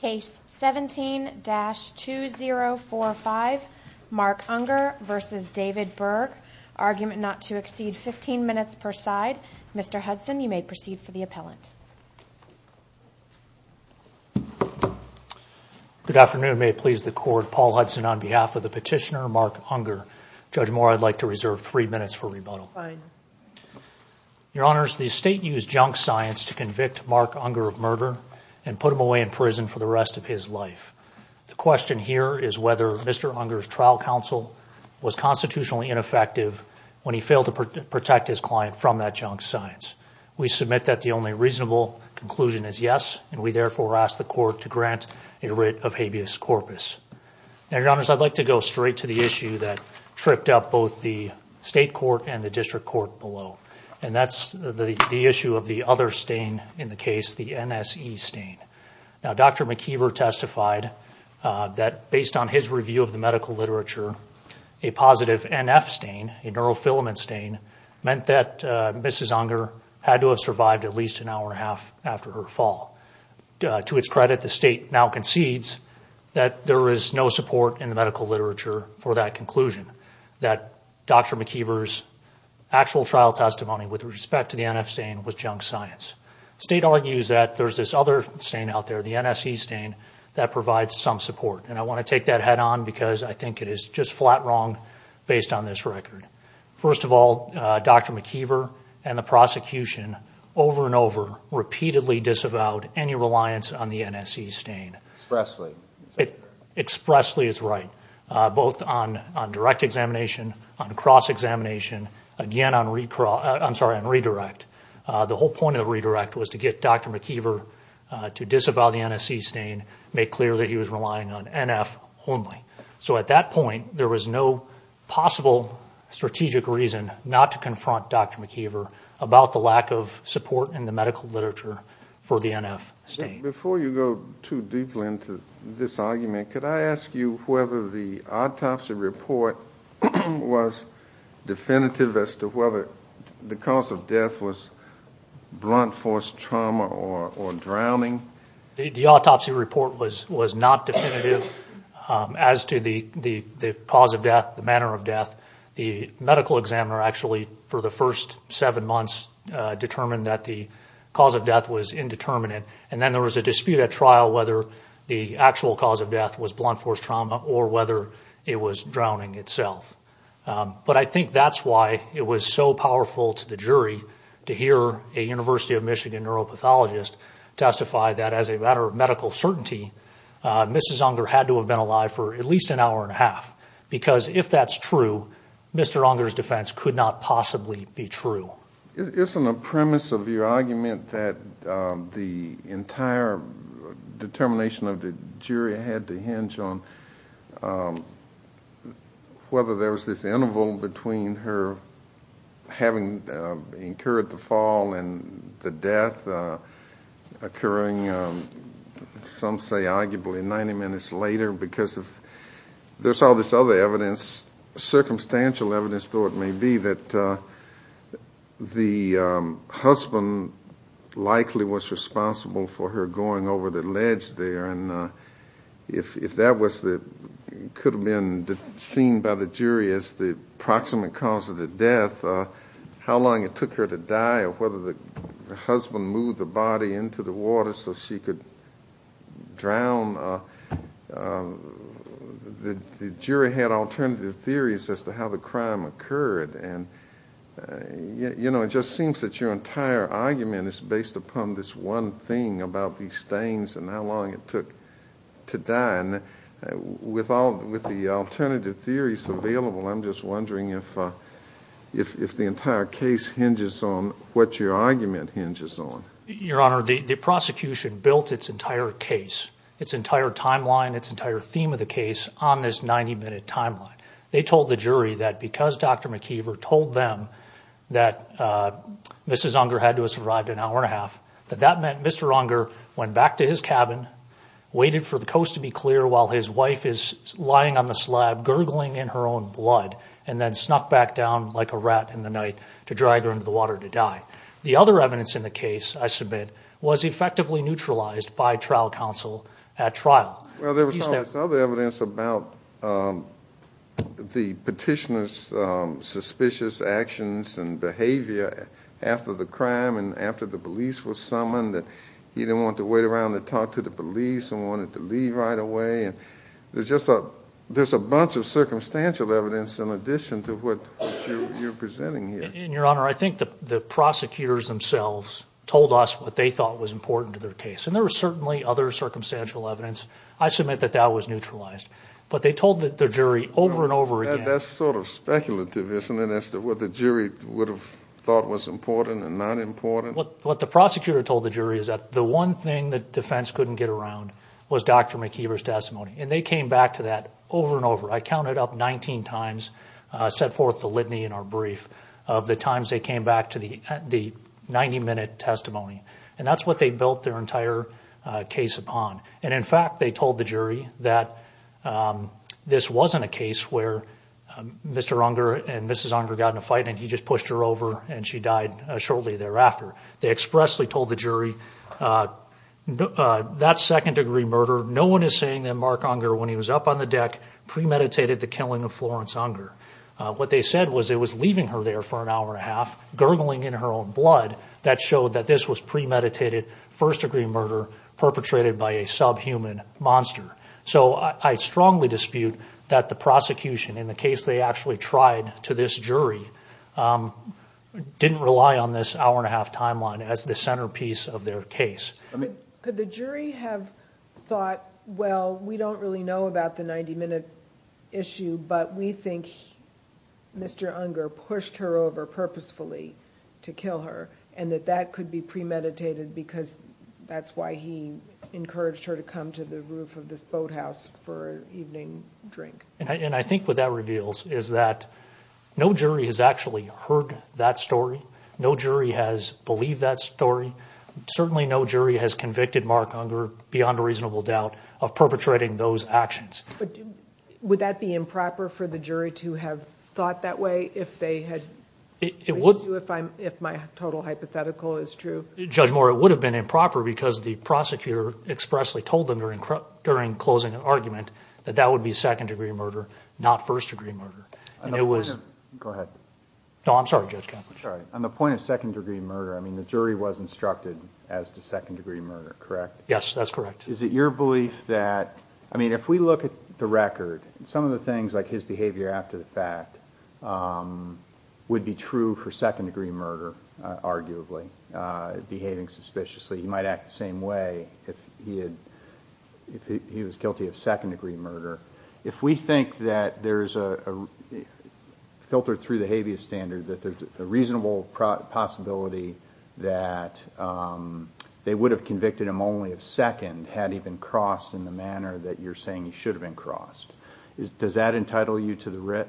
Case 17-2045, Mark Unger v. David Bergh, argument not to exceed 15 minutes per side. Mr. Hudson, you may proceed for the appellant. Good afternoon. May it please the Court, Paul Hudson on behalf of the petitioner Mark Unger. Judge Moore, I'd like to reserve three minutes for rebuttal. Fine. Your Honors, the State used junk science to convict Mark Unger of murder and put him away in prison for the rest of his life. The question here is whether Mr. Unger's trial counsel was constitutionally ineffective when he failed to protect his client from that junk science. We submit that the only reasonable conclusion is yes, and we therefore ask the Court to grant a writ of habeas corpus. Your Honors, I'd like to go straight to the issue that tripped up both the State Court and the District Court below, and that's the issue of the other stain in the case, the NSE stain. Now, Dr. McKeever testified that based on his review of the medical literature, a positive NF stain, a neurofilament stain, meant that Mrs. Unger had to have survived at least an hour and a half after her fall. To its credit, the State now concedes that there is no support in the medical literature for that conclusion, that Dr. McKeever's actual trial testimony with respect to the NF stain was junk science. The State argues that there's this other stain out there, the NSE stain, that provides some support, and I want to take that head-on because I think it is just flat wrong based on this record. First of all, Dr. McKeever and the prosecution over and over repeatedly disavowed any reliance on the NSE stain. Expressly. Expressly is right, both on direct examination, on cross-examination, again on redirect. The whole point of the redirect was to get Dr. McKeever to disavow the NSE stain, make clear that he was relying on NF only. So at that point, there was no possible strategic reason not to confront Dr. McKeever about the lack of support in the medical literature for the NF stain. Before you go too deeply into this argument, could I ask you whether the autopsy report was definitive as to whether the cause of death was blunt force trauma or drowning? The autopsy report was not definitive as to the cause of death, the manner of death. The medical examiner actually, for the first seven months, determined that the cause of death was indeterminate, and then there was a dispute at trial whether the actual cause of death was blunt force trauma or whether it was drowning itself. But I think that's why it was so powerful to the jury to hear a University of Michigan neuropathologist testify that as a matter of medical certainty, Mrs. Unger had to have been alive for at least an hour and a half, because if that's true, Mr. Unger's defense could not possibly be true. Isn't the premise of your argument that the entire determination of the jury had to hinge on whether there was this interval between her having incurred the fall and the death occurring, some say, arguably 90 minutes later, because there's all this other evidence, circumstantial evidence, though it may be, that the husband likely was responsible for her going over the ledge there, and if that could have been seen by the jury as the proximate cause of the death, how long it took her to die or whether the husband moved the body into the water so she could drown, the jury had alternative theories as to how the crime occurred. You know, it just seems that your entire argument is based upon this one thing about these stains and how long it took to die. And with the alternative theories available, I'm just wondering if the entire case hinges on what your argument hinges on. Your Honor, the prosecution built its entire case, its entire timeline, its entire theme of the case on this 90-minute timeline. They told the jury that because Dr. McKeever told them that Mrs. Unger had to have survived an hour and a half, that that meant Mr. Unger went back to his cabin, waited for the coast to be clear while his wife is lying on the slab, gurgling in her own blood, and then snuck back down like a rat in the night to drag her into the water to die. The other evidence in the case, I submit, was effectively neutralized by trial counsel at trial. Well, there was other evidence about the petitioner's suspicious actions and behavior after the crime and after the police were summoned, that he didn't want to wait around to talk to the police and wanted to leave right away. There's a bunch of circumstantial evidence in addition to what you're presenting here. Your Honor, I think the prosecutors themselves told us what they thought was important to their case, and there was certainly other circumstantial evidence. I submit that that was neutralized, but they told the jury over and over again. That's sort of speculative, isn't it, as to what the jury would have thought was important and not important? What the prosecutor told the jury is that the one thing that defense couldn't get around was Dr. McKeever's testimony, and they came back to that over and over. I counted up 19 times, set forth the litany in our brief of the times they came back to the 90-minute testimony, and that's what they built their entire case upon. And, in fact, they told the jury that this wasn't a case where Mr. Unger and Mrs. Unger got in a fight and he just pushed her over and she died shortly thereafter. They expressly told the jury, that's second-degree murder. No one is saying that Mark Unger, when he was up on the deck, premeditated the killing of Florence Unger. What they said was it was leaving her there for an hour and a half, gurgling in her own blood, that showed that this was premeditated first-degree murder perpetrated by a subhuman monster. So I strongly dispute that the prosecution, in the case they actually tried to this jury, didn't rely on this hour and a half timeline as the centerpiece of their case. Could the jury have thought, well, we don't really know about the 90-minute issue, but we think Mr. Unger pushed her over purposefully to kill her, and that that could be premeditated because that's why he encouraged her to come to the roof of this boathouse for an evening drink? And I think what that reveals is that no jury has actually heard that story. No jury has believed that story. Certainly no jury has convicted Mark Unger, beyond a reasonable doubt, of perpetrating those actions. But would that be improper for the jury to have thought that way if they had, if my total hypothetical is true? Judge Moore, it would have been improper because the prosecutor expressly told them during closing argument that that would be second-degree murder, not first-degree murder. Go ahead. On the point of second-degree murder, I mean, the jury was instructed as to second-degree murder, correct? Yes, that's correct. Is it your belief that, I mean, if we look at the record, some of the things like his behavior after the fact would be true for second-degree murder, arguably, behaving suspiciously. He might act the same way if he was guilty of second-degree murder. If we think that there's a, filtered through the habeas standard, that there's a reasonable possibility that they would have convicted him only of second had he been crossed in the manner that you're saying he should have been crossed, does that entitle you to the writ?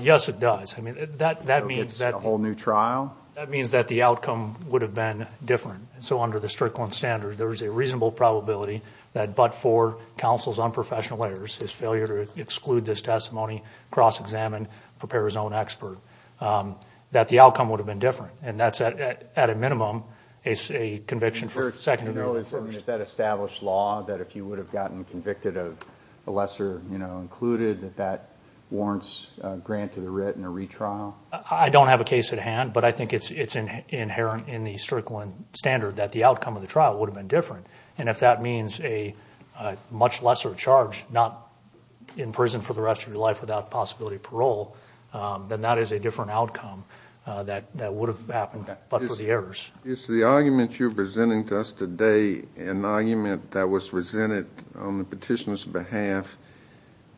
Yes, it does. I mean, that means that the outcome would have been different. So under the Strickland standard, there is a reasonable probability that but for counsel's unprofessional errors, his failure to exclude this testimony, cross-examine, prepare his own expert, that the outcome would have been different. And that's at a minimum a conviction for second-degree murder. Is that established law that if you would have gotten convicted of a lesser, you know, included, that that warrants a grant to the writ and a retrial? I don't have a case at hand, but I think it's inherent in the Strickland standard that the outcome of the trial would have been different. And if that means a much lesser charge, not in prison for the rest of your life without possibility of parole, then that is a different outcome that would have happened but for the errors. Is the argument you're presenting to us today an argument that was presented on the petitioner's behalf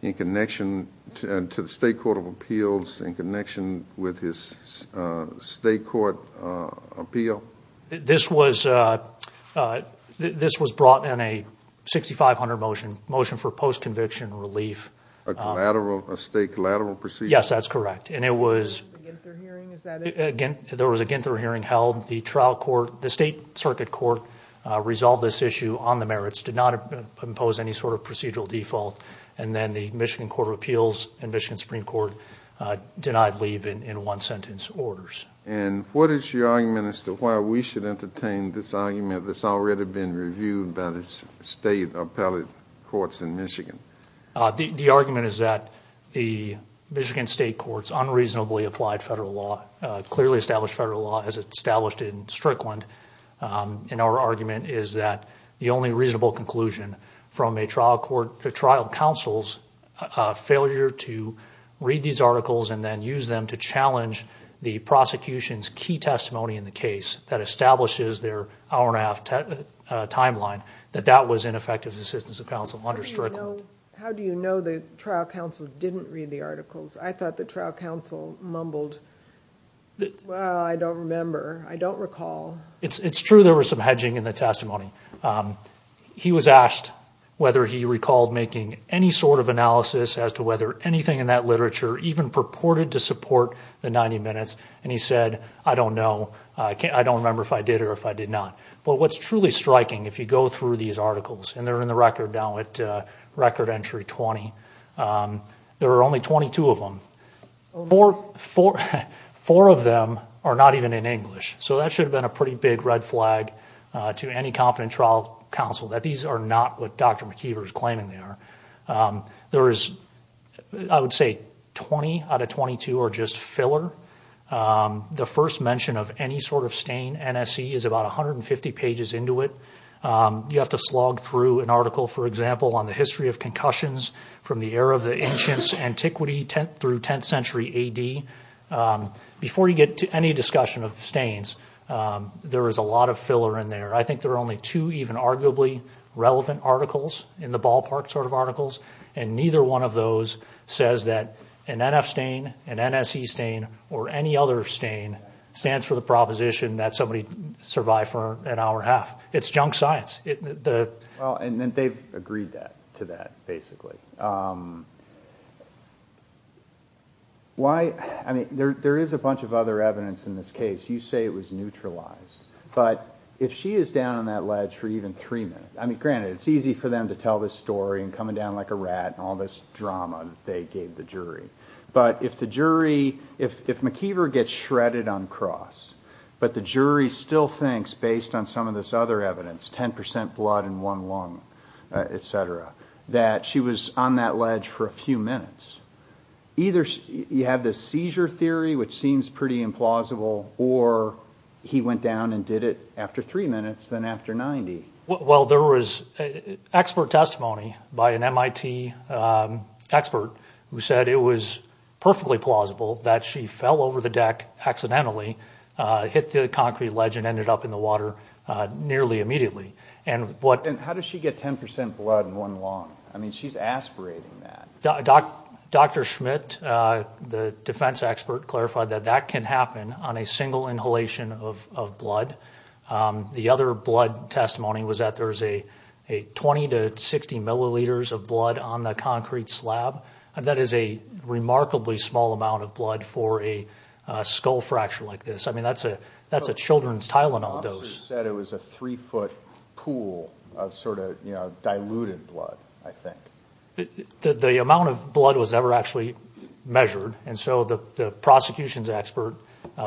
in connection to the State Court of Appeals, in connection with his State Court appeal? This was brought in a 6500 motion, motion for post-conviction relief. A state collateral procedure? Yes, that's correct. And there was a Ginther hearing held. The State Circuit Court resolved this issue on the merits, did not impose any sort of procedural default, and then the Michigan Court of Appeals and Michigan Supreme Court denied leave in one-sentence orders. And what is your argument as to why we should entertain this argument that's already been reviewed by the state appellate courts in Michigan? The argument is that the Michigan State Court's unreasonably applied federal law, as established in Strickland, and our argument is that the only reasonable conclusion from a trial counsel's failure to read these articles and then use them to challenge the prosecution's key testimony in the case that establishes their hour-and-a-half timeline, that that was ineffective assistance of counsel under Strickland. How do you know the trial counsel didn't read the articles? I thought the trial counsel mumbled, well, I don't remember, I don't recall. It's true there was some hedging in the testimony. He was asked whether he recalled making any sort of analysis as to whether anything in that literature even purported to support the 90 minutes, and he said, I don't know, I don't remember if I did or if I did not. But what's truly striking, if you go through these articles, and they're in the record now at record entry 20, there are only 22 of them. Four of them are not even in English, so that should have been a pretty big red flag to any competent trial counsel that these are not what Dr. McKeever is claiming they are. There is, I would say, 20 out of 22 are just filler. The first mention of any sort of stain, NSE, is about 150 pages into it. You have to slog through an article, for example, on the history of concussions from the era of the ancients, antiquity through 10th century A.D. Before you get to any discussion of stains, there is a lot of filler in there. I think there are only two even arguably relevant articles in the ballpark sort of articles, and neither one of those says that an NF stain, an NSE stain, or any other stain stands for the proposition that somebody survived for an hour and a half. It's junk science. They've agreed to that, basically. There is a bunch of other evidence in this case. You say it was neutralized, but if she is down on that ledge for even three minutes, granted, it's easy for them to tell this story and come down like a rat and all this drama that they gave the jury, but if McKeever gets shredded on cross, but the jury still thinks, based on some of this other evidence, 10% blood in one lung, et cetera, that she was on that ledge for a few minutes, either you have this seizure theory, which seems pretty implausible, or he went down and did it after three minutes, then after 90. Well, there was expert testimony by an MIT expert who said it was perfectly plausible that she fell over the deck accidentally, hit the concrete ledge, and ended up in the water nearly immediately. And how does she get 10% blood in one lung? I mean, she's aspirating that. Dr. Schmidt, the defense expert, clarified that that can happen on a single inhalation of blood. The other blood testimony was that there's 20 to 60 milliliters of blood on the concrete slab, and that is a remarkably small amount of blood for a skull fracture like this. I mean, that's a children's Tylenol dose. The officer said it was a three-foot pool of sort of diluted blood, I think. The amount of blood was never actually measured, and so the prosecution's expert,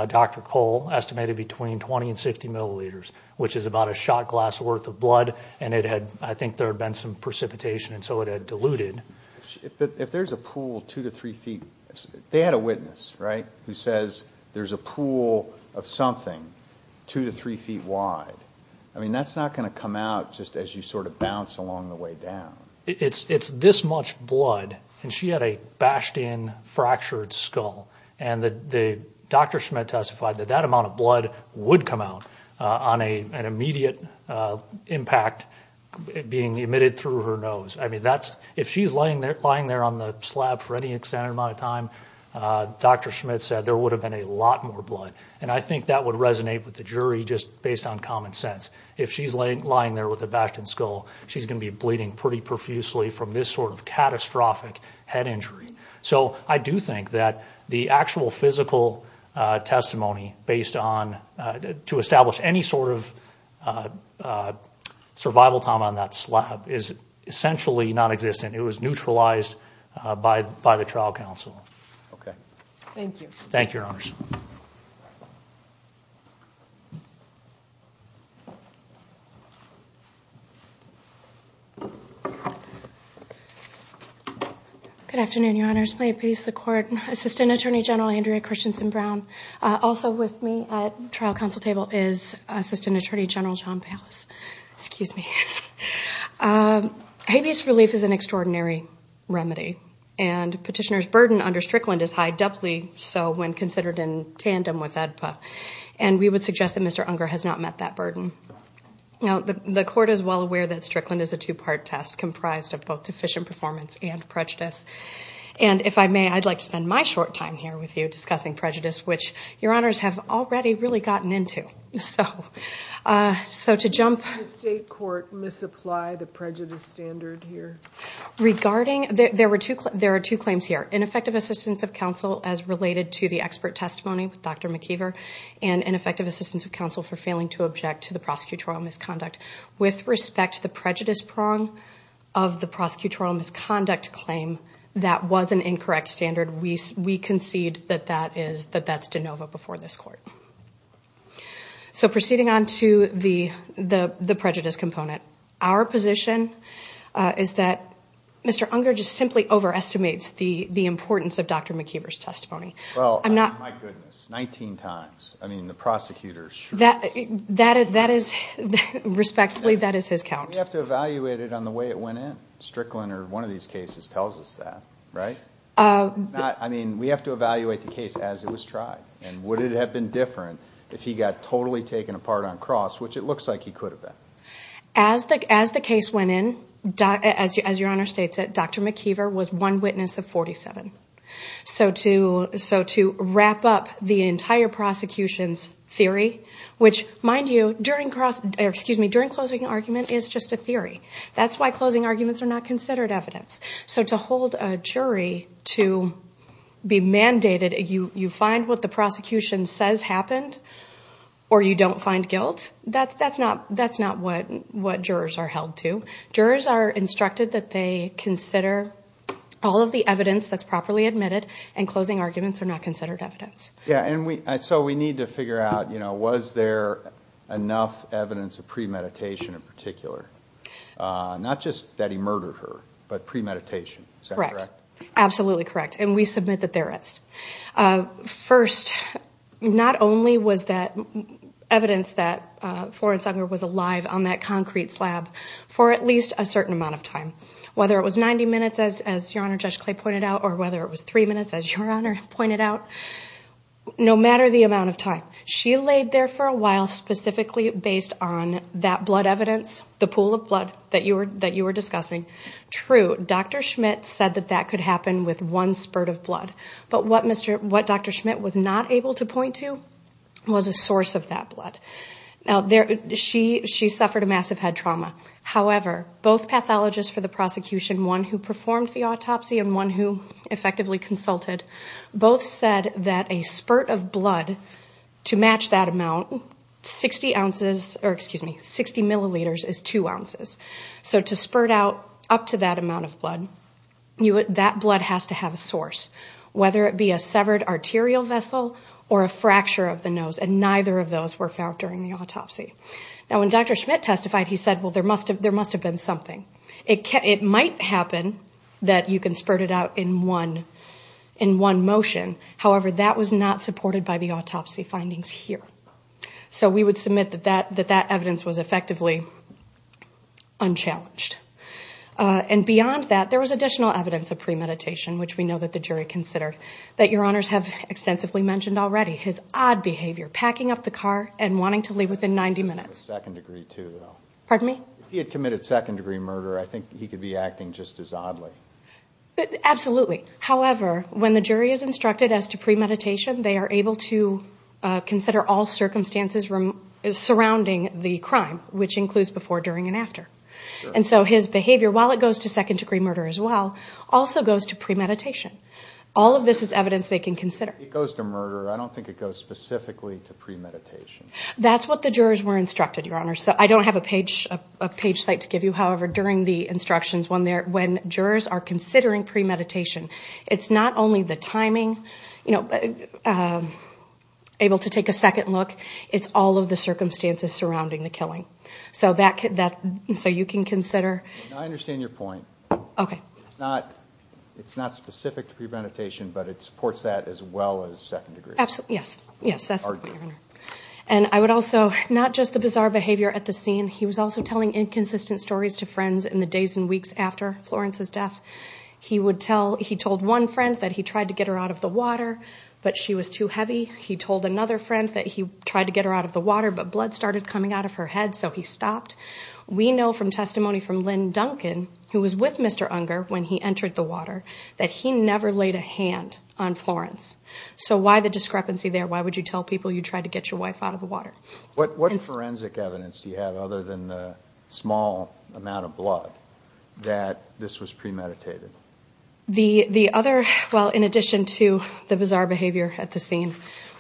Dr. Cole, estimated between 20 and 60 milliliters, which is about a shot glass worth of blood, and I think there had been some precipitation, and so it had diluted. If there's a pool two to three feet, they had a witness, right, who says there's a pool of something two to three feet wide. I mean, that's not going to come out just as you sort of bounce along the way down. It's this much blood, and she had a bashed-in, fractured skull, and Dr. Schmidt testified that that amount of blood would come out on an immediate impact being emitted through her nose. I mean, if she's lying there on the slab for any extended amount of time, Dr. Schmidt said there would have been a lot more blood, and I think that would resonate with the jury just based on common sense. If she's lying there with a bashed-in skull, she's going to be bleeding pretty profusely from this sort of catastrophic head injury. So I do think that the actual physical testimony based on to establish any sort of survival time on that slab is essentially nonexistent. It was neutralized by the trial counsel. Okay. Thank you. Thank you, Your Honors. Good afternoon, Your Honors. May it please the Court. Assistant Attorney General Andrea Christensen-Brown, also with me at the trial counsel table is Assistant Attorney General John Palos. Excuse me. Habeas relief is an extraordinary remedy, and petitioner's burden under Strickland is high, doubly so when considered in tandem with AEDPA, and we would suggest that Mr. Unger has not met that burden. The Court is well aware that Strickland is a two-part test comprised of both deficient performance and prejudice, and if I may, I'd like to spend my short time here with you discussing prejudice, which Your Honors have already really gotten into. So to jump... Did the state court misapply the prejudice standard here? Regarding, there are two claims here, ineffective assistance of counsel as related to the expert testimony with Dr. McKeever, and ineffective assistance of counsel for failing to object to the prosecutorial misconduct. With respect to the prejudice prong of the prosecutorial misconduct claim, that was an incorrect standard. We concede that that's de novo before this Court. So proceeding on to the prejudice component, our position is that Mr. Unger just simply overestimates the importance of Dr. McKeever's testimony. Well, my goodness, 19 times. Respectfully, that is his count. We have to evaluate it on the way it went in. Strickland or one of these cases tells us that, right? I mean, we have to evaluate the case as it was tried, and would it have been different if he got totally taken apart on cross, which it looks like he could have been. As the case went in, as Your Honor states it, Dr. McKeever was one witness of 47. So to wrap up the entire prosecution's theory, which, mind you, during closing argument is just a theory. That's why closing arguments are not considered evidence. So to hold a jury to be mandated, you find what the prosecution says happened or you don't find guilt, that's not what jurors are held to. Jurors are instructed that they consider all of the evidence that's properly admitted, and closing arguments are not considered evidence. Yeah, and so we need to figure out, you know, was there enough evidence of premeditation in particular? Not just that he murdered her, but premeditation. Correct. Absolutely correct, and we submit that there is. First, not only was that evidence that Florence Unger was alive on that concrete slab, for at least a certain amount of time. Whether it was 90 minutes, as Your Honor, Judge Clay pointed out, or whether it was three minutes, as Your Honor pointed out, no matter the amount of time. She laid there for a while specifically based on that blood evidence, the pool of blood that you were discussing. True, Dr. Schmidt said that that could happen with one spurt of blood, but what Dr. Schmidt was not able to point to was a source of that blood. She suffered a massive head trauma. However, both pathologists for the prosecution, one who performed the autopsy and one who effectively consulted, both said that a spurt of blood to match that amount, 60 milliliters is 2 ounces. So to spurt out up to that amount of blood, that blood has to have a source, whether it be a severed arterial vessel or a fracture of the nose, and neither of those were found during the autopsy. Now, when Dr. Schmidt testified, he said, well, there must have been something. It might happen that you can spurt it out in one motion. However, that was not supported by the autopsy findings here. So we would submit that that evidence was effectively unchallenged. And beyond that, there was additional evidence of premeditation, which we know that the jury considered, that Your Honors have extensively mentioned already. His odd behavior, packing up the car and wanting to leave within 90 minutes. Second-degree too, though. Pardon me? If he had committed second-degree murder, I think he could be acting just as oddly. Absolutely. However, when the jury is instructed as to premeditation, they are able to consider all circumstances surrounding the crime, which includes before, during, and after. And so his behavior, while it goes to second-degree murder as well, also goes to premeditation. All of this is evidence they can consider. It goes to murder. I don't think it goes specifically to premeditation. That's what the jurors were instructed, Your Honors. I don't have a page site to give you. However, during the instructions when jurors are considering premeditation, it's not only the timing, able to take a second look, it's all of the circumstances surrounding the killing. So you can consider. I understand your point. Okay. It's not specific to premeditation, but it supports that as well as second-degree murder. Absolutely, yes. Yes, that's the point, Your Honor. And I would also, not just the bizarre behavior at the scene, he was also telling inconsistent stories to friends in the days and weeks after Florence's death. He told one friend that he tried to get her out of the water, but she was too heavy. He told another friend that he tried to get her out of the water, but blood started coming out of her head, so he stopped. We know from testimony from Lynn Duncan, who was with Mr. Unger when he entered the water, that he never laid a hand on Florence. So why the discrepancy there? Why would you tell people you tried to get your wife out of the water? What forensic evidence do you have, other than the small amount of blood, that this was premeditated? The other, well, in addition to the bizarre behavior at the scene,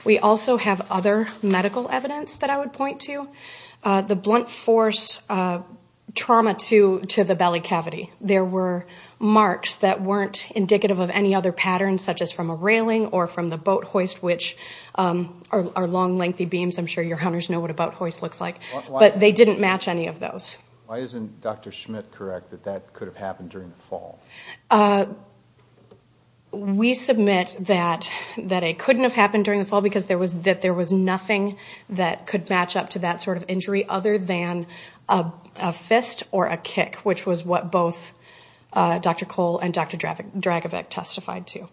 we also have other medical evidence that I would point to. The blunt force trauma to the belly cavity. There were marks that weren't indicative of any other pattern, such as from a railing or from the boat hoist, which are long, lengthy beams. I'm sure your hunters know what a boat hoist looks like. But they didn't match any of those. Why isn't Dr. Schmidt correct that that could have happened during the fall? We submit that it couldn't have happened during the fall because there was nothing that could match up to that sort of injury other than a fist or a kick, which was what both Dr. Cole and Dr. Dragovic testified to.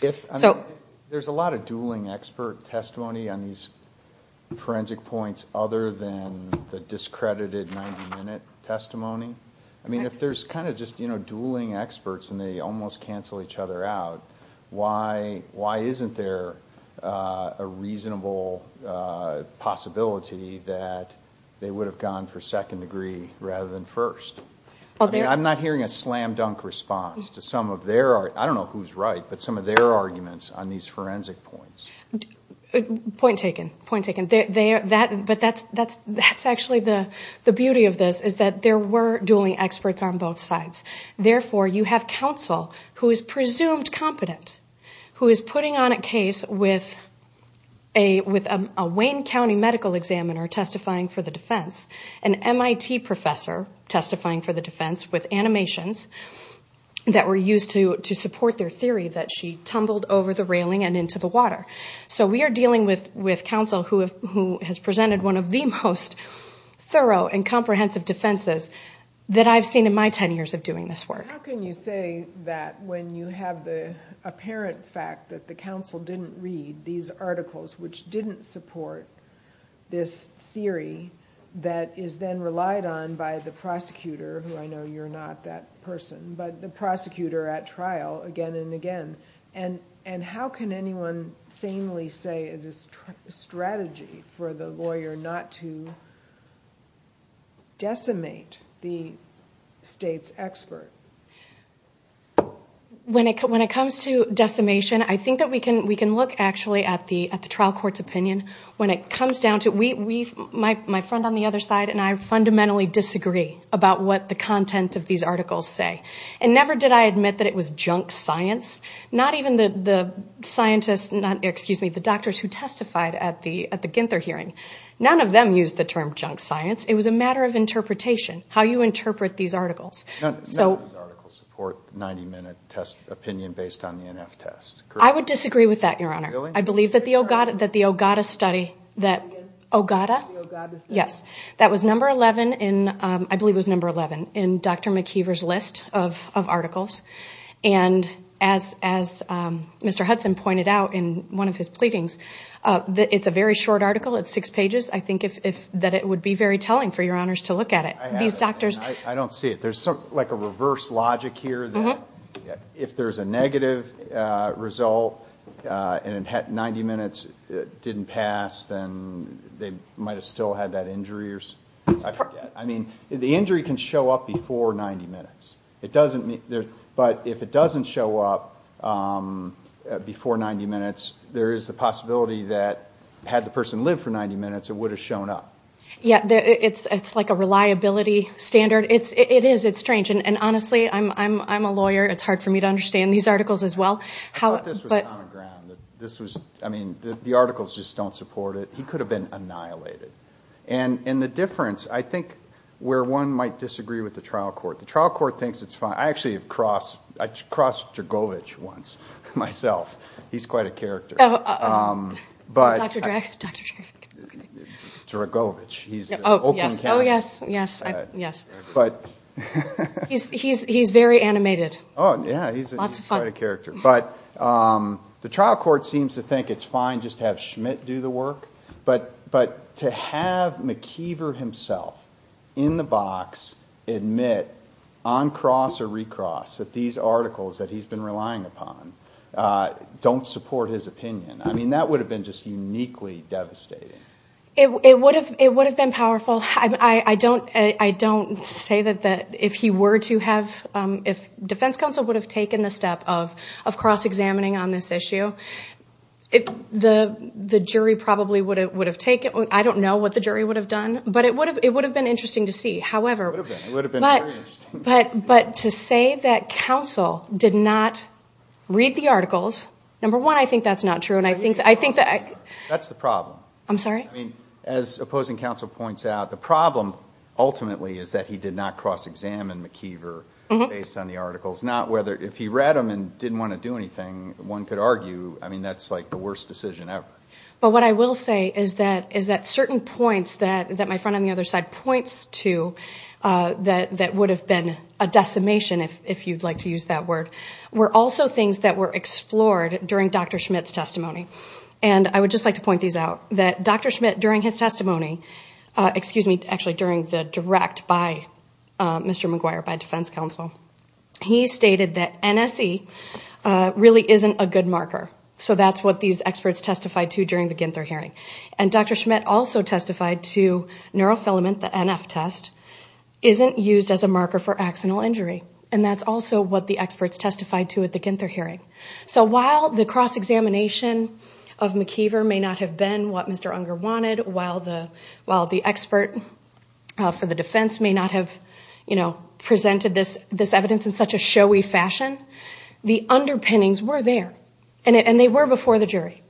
There's a lot of dueling expert testimony on these forensic points, other than the discredited 90-minute testimony. I mean, if there's kind of just dueling experts and they almost cancel each other out, why isn't there a reasonable possibility that they would have gone for second degree rather than first? I'm not hearing a slam-dunk response to some of their, I don't know who's right, but some of their arguments on these forensic points. Point taken, point taken. But that's actually the beauty of this, is that there were dueling experts on both sides. Therefore, you have counsel who is presumed competent, who is putting on a case with a Wayne County medical examiner testifying for the defense, an MIT professor testifying for the defense with animations that were used to support their theory that she tumbled over the railing and into the water. So we are dealing with counsel who has presented one of the most thorough and comprehensive defenses that I've seen in my 10 years of doing this work. How can you say that when you have the apparent fact that the counsel didn't read these articles, which didn't support this theory that is then relied on by the prosecutor, who I know you're not that person, but the prosecutor at trial again and again. And how can anyone sanely say it is a strategy for the lawyer not to decimate the state's expert? When it comes to decimation, I think that we can look actually at the trial court's opinion. When it comes down to it, my friend on the other side and I fundamentally disagree about what the content of these articles say. And never did I admit that it was junk science. Not even the scientists, excuse me, the doctors who testified at the Ginther hearing. None of them used the term junk science. It was a matter of interpretation, how you interpret these articles. None of these articles support 90-minute opinion based on the NF test. I would disagree with that, Your Honor. Really? I believe that the Ogata study, that was number 11 in Dr. McKeever's list of articles. And as Mr. Hudson pointed out in one of his pleadings, it's a very short article. It's six pages. I think that it would be very telling for Your Honors to look at it. I don't see it. There's like a reverse logic here that if there's a negative result and 90 minutes didn't pass, then they might have still had that injury. I mean, the injury can show up before 90 minutes. But if it doesn't show up before 90 minutes, there is the possibility that had the person lived for 90 minutes, it would have shown up. Yeah, it's like a reliability standard. It is. It's strange. And honestly, I'm a lawyer. It's hard for me to understand these articles as well. I thought this was on the ground. I mean, the articles just don't support it. He could have been annihilated. And the difference, I think, where one might disagree with the trial court. The trial court thinks it's fine. I actually have crossed Dragovich once, myself. He's quite a character. Dr. Dragovich. Oh, yes. Yes. Yes. He's very animated. Oh, yeah. He's quite a character. But the trial court seems to think it's fine just to have Schmidt do the work. But to have McKeever himself in the box admit on cross or recross that these articles that he's been relying upon don't support his opinion. I mean, that would have been just uniquely devastating. It would have been powerful. I don't say that if he were to have – if defense counsel would have taken the step of cross-examining on this issue, the jury probably would have taken it. I don't know what the jury would have done, but it would have been interesting to see. It would have been. It would have been very interesting. But to say that counsel did not read the articles, number one, I think that's not true. That's the problem. I'm sorry? I mean, as opposing counsel points out, the problem ultimately is that he did not cross-examine McKeever based on the articles. Not whether – if he read them and didn't want to do anything, one could argue, I mean, that's like the worst decision ever. But what I will say is that certain points that my friend on the other side points to that would have been a decimation, if you'd like to use that word, were also things that were explored during Dr. Schmidt's testimony. And I would just like to point these out, that Dr. Schmidt, during his testimony – excuse me, actually during the direct by Mr. McGuire, by defense counsel, he stated that NSE really isn't a good marker. So that's what these experts testified to during the Ginther hearing. And Dr. Schmidt also testified to neurofilament, the NF test, isn't used as a marker for axonal injury. And that's also what the experts testified to at the Ginther hearing. So while the cross-examination of McKeever may not have been what Mr. Unger wanted, while the expert for the defense may not have presented this evidence in such a showy fashion, the underpinnings were there, and they were before the jury.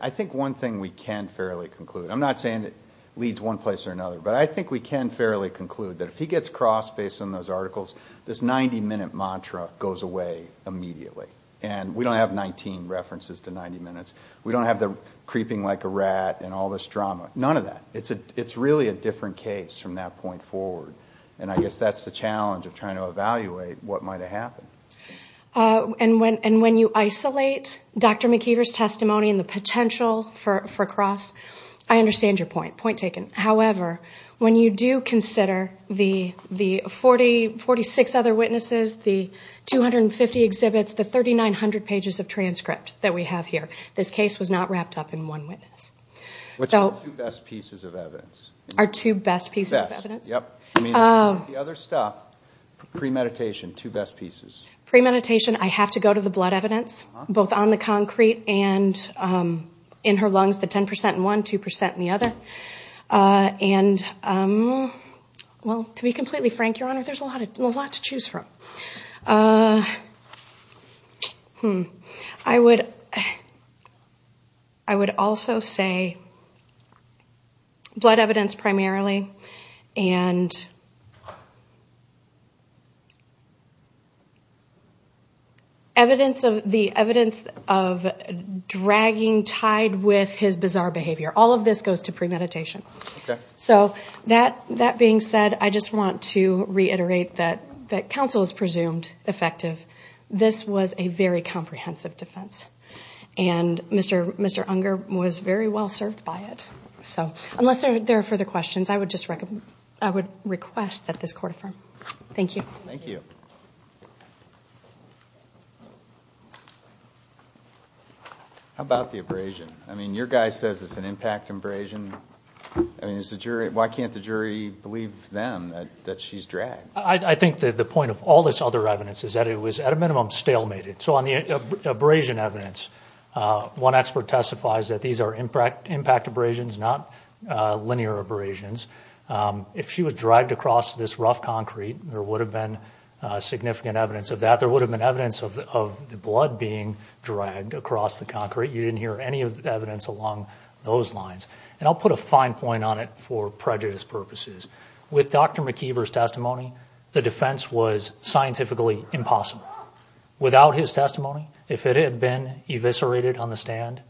I think one thing we can fairly conclude – I'm not saying it leads one place or another, but I think we can fairly conclude that if he gets crossed based on those articles, this 90-minute mantra goes away immediately. And we don't have 19 references to 90 minutes. We don't have the creeping like a rat and all this drama. None of that. It's really a different case from that point forward. And I guess that's the challenge of trying to evaluate what might have happened. And when you isolate Dr. McKeever's testimony and the potential for cross, I understand your point, point taken. However, when you do consider the 46 other witnesses, the 250 exhibits, the 3,900 pages of transcript that we have here, this case was not wrapped up in one witness. Which are the two best pieces of evidence? Our two best pieces of evidence? Best, yep. The other stuff, premeditation, two best pieces. Premeditation, I have to go to the blood evidence, both on the concrete and in her lungs, the 10% in one, 2% in the other. And, well, to be completely frank, Your Honor, there's a lot to choose from. I would also say blood evidence primarily and the evidence of dragging tied with his bizarre behavior. All of this goes to premeditation. So that being said, I just want to reiterate that counsel is presumed effective. This was a very comprehensive defense. And Mr. Unger was very well served by it. So unless there are further questions, I would request that this court affirm. Thank you. Thank you. How about the abrasion? I mean, your guy says it's an impact abrasion. I mean, why can't the jury believe them that she's dragged? I think the point of all this other evidence is that it was, at a minimum, stalemated. So on the abrasion evidence, one expert testifies that these are impact abrasions, not linear abrasions. If she was dragged across this rough concrete, there would have been significant evidence of that. There would have been evidence of the blood being dragged across the concrete. You didn't hear any of the evidence along those lines. And I'll put a fine point on it for prejudice purposes. With Dr. McIver's testimony, the defense was scientifically impossible. Without his testimony, if it had been eviscerated on the stand,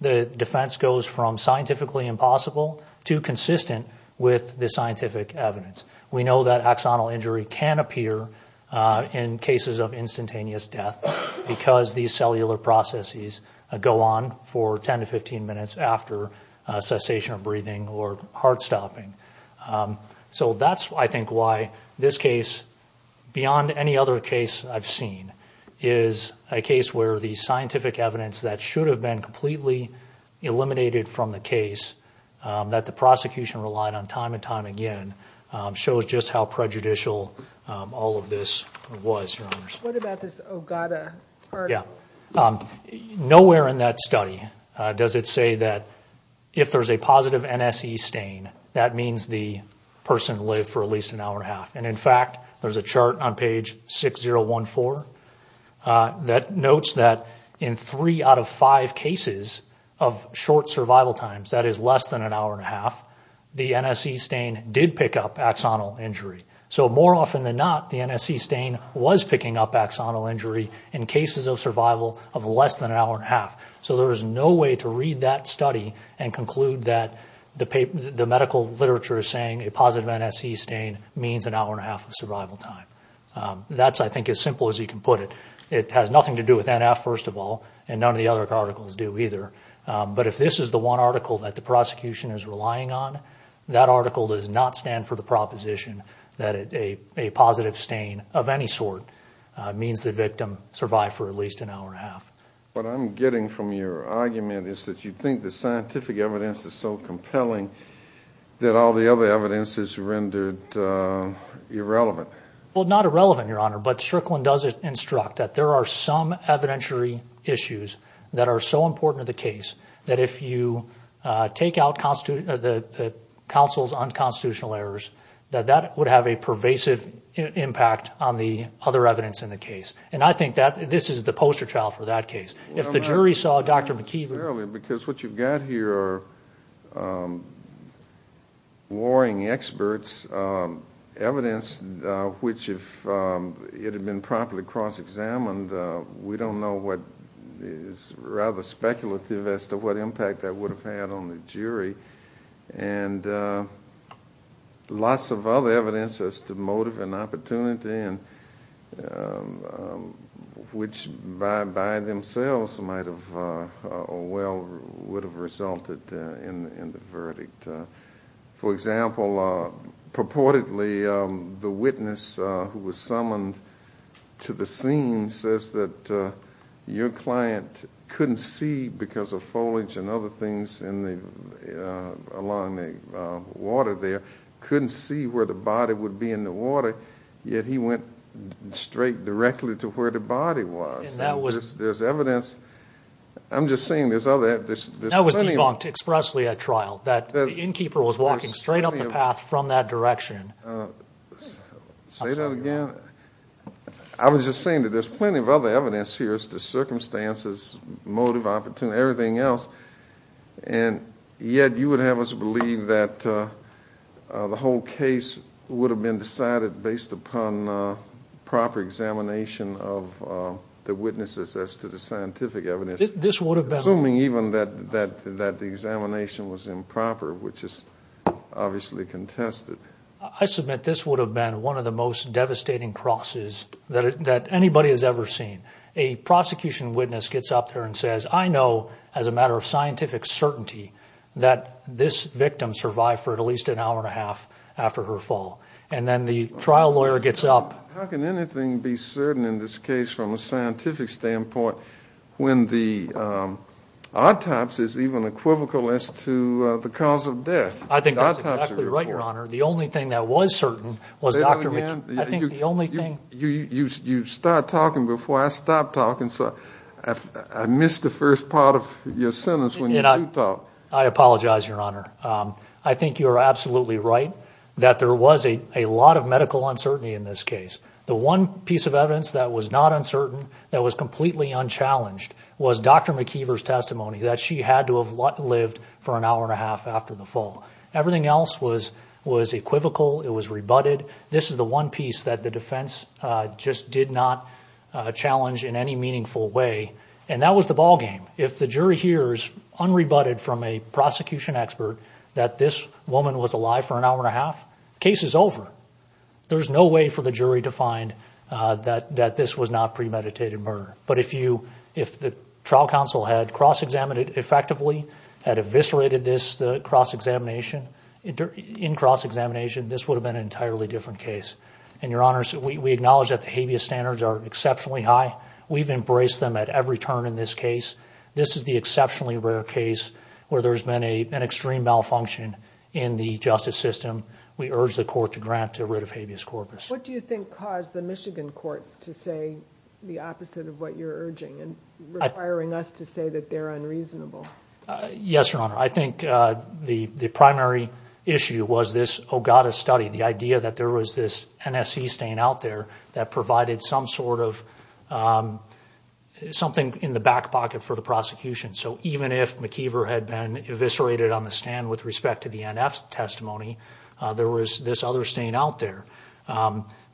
the defense goes from scientifically impossible to consistent with the scientific evidence. We know that axonal injury can appear in cases of instantaneous death because these cellular processes go on for 10 to 15 minutes after cessation of breathing or heart stopping. So that's, I think, why this case, beyond any other case I've seen, is a case where the scientific evidence that should have been completely eliminated from the case, that the prosecution relied on time and time again, shows just how prejudicial all of this was. What about this Ogata part? Nowhere in that study does it say that if there's a positive NSE stain, that means the person lived for at least an hour and a half. And in fact, there's a chart on page 6014 that notes that in three out of five cases of short survival times, that is less than an hour and a half, the NSE stain did pick up axonal injury. So more often than not, the NSE stain was picking up axonal injury in cases of survival of less than an hour and a half. So there is no way to read that study and conclude that the medical literature is saying a positive NSE stain means an hour and a half of survival time. That's, I think, as simple as you can put it. It has nothing to do with NF, first of all, and none of the other articles do either. But if this is the one article that the prosecution is relying on, that article does not stand for the proposition that a positive stain of any sort means the victim survived for at least an hour and a half. What I'm getting from your argument is that you think the scientific evidence is so compelling that all the other evidence is rendered irrelevant. Well, not irrelevant, Your Honor, but Strickland does instruct that there are some evidentiary issues that are so important to the case that if you take out the counsel's unconstitutional errors, that that would have a pervasive impact on the other evidence in the case. And I think that this is the poster child for that case. Because what you've got here are warring experts, evidence which, if it had been properly cross-examined, we don't know what is rather speculative as to what impact that would have had on the jury. And lots of other evidence as to motive and opportunity, which by themselves might have or well would have resulted in the verdict. For example, purportedly the witness who was summoned to the scene says that your client couldn't see because of foliage and other things along the water there, couldn't see where the body would be in the water, yet he went straight directly to where the body was. There's evidence. I'm just saying there's other evidence. That was debunked expressly at trial, that the innkeeper was walking straight up the path from that direction. Say that again? I was just saying that there's plenty of other evidence here as to circumstances, motive, opportunity, everything else, and yet you would have us believe that the whole case would have been decided based upon proper examination of the witnesses as to the scientific evidence, assuming even that the examination was improper, which is obviously contested. I submit this would have been one of the most devastating crosses that anybody has ever seen. A prosecution witness gets up there and says, I know as a matter of scientific certainty that this victim survived for at least an hour and a half after her fall. And then the trial lawyer gets up. How can anything be certain in this case from a scientific standpoint when the autopsy is even equivocal as to the cause of death? Say that again? You start talking before I stop talking. I missed the first part of your sentence when you do talk. I apologize, Your Honor. I think you are absolutely right that there was a lot of medical uncertainty in this case. The one piece of evidence that was not uncertain, that was completely unchallenged, was Dr. McKeever's testimony that she had to have lived for an hour and a half after the fall. Everything else was equivocal. It was rebutted. This is the one piece that the defense just did not challenge in any meaningful way, and that was the ballgame. If the jury hears unrebutted from a prosecution expert that this woman was alive for an hour and a half, case is over. There's no way for the jury to find that this was not premeditated murder. If the trial counsel had cross-examined it effectively, had eviscerated this in cross-examination, this would have been an entirely different case. Your Honor, we acknowledge that the habeas standards are exceptionally high. We've embraced them at every turn in this case. This is the exceptionally rare case where there's been an extreme malfunction in the justice system. We urge the court to grant a writ of habeas corpus. What do you think caused the Michigan courts to say the opposite of what you're urging and requiring us to say that they're unreasonable? Yes, Your Honor. I think the primary issue was this Ogata study, the idea that there was this NSE stain out there that provided some sort of something in the back pocket for the prosecution. So even if McKeever had been eviscerated on the stand with respect to the NF testimony, there was this other stain out there.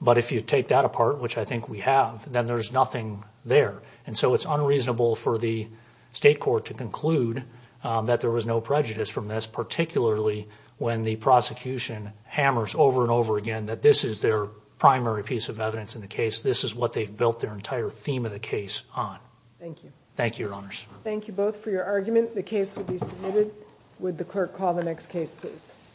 But if you take that apart, which I think we have, then there's nothing there. And so it's unreasonable for the state court to conclude that there was no prejudice from this, particularly when the prosecution hammers over and over again that this is their primary piece of evidence in the case. This is what they've built their entire theme of the case on. Thank you. Thank you, Your Honors. Thank you both for your argument. The case will be submitted. Would the clerk call the next case, please?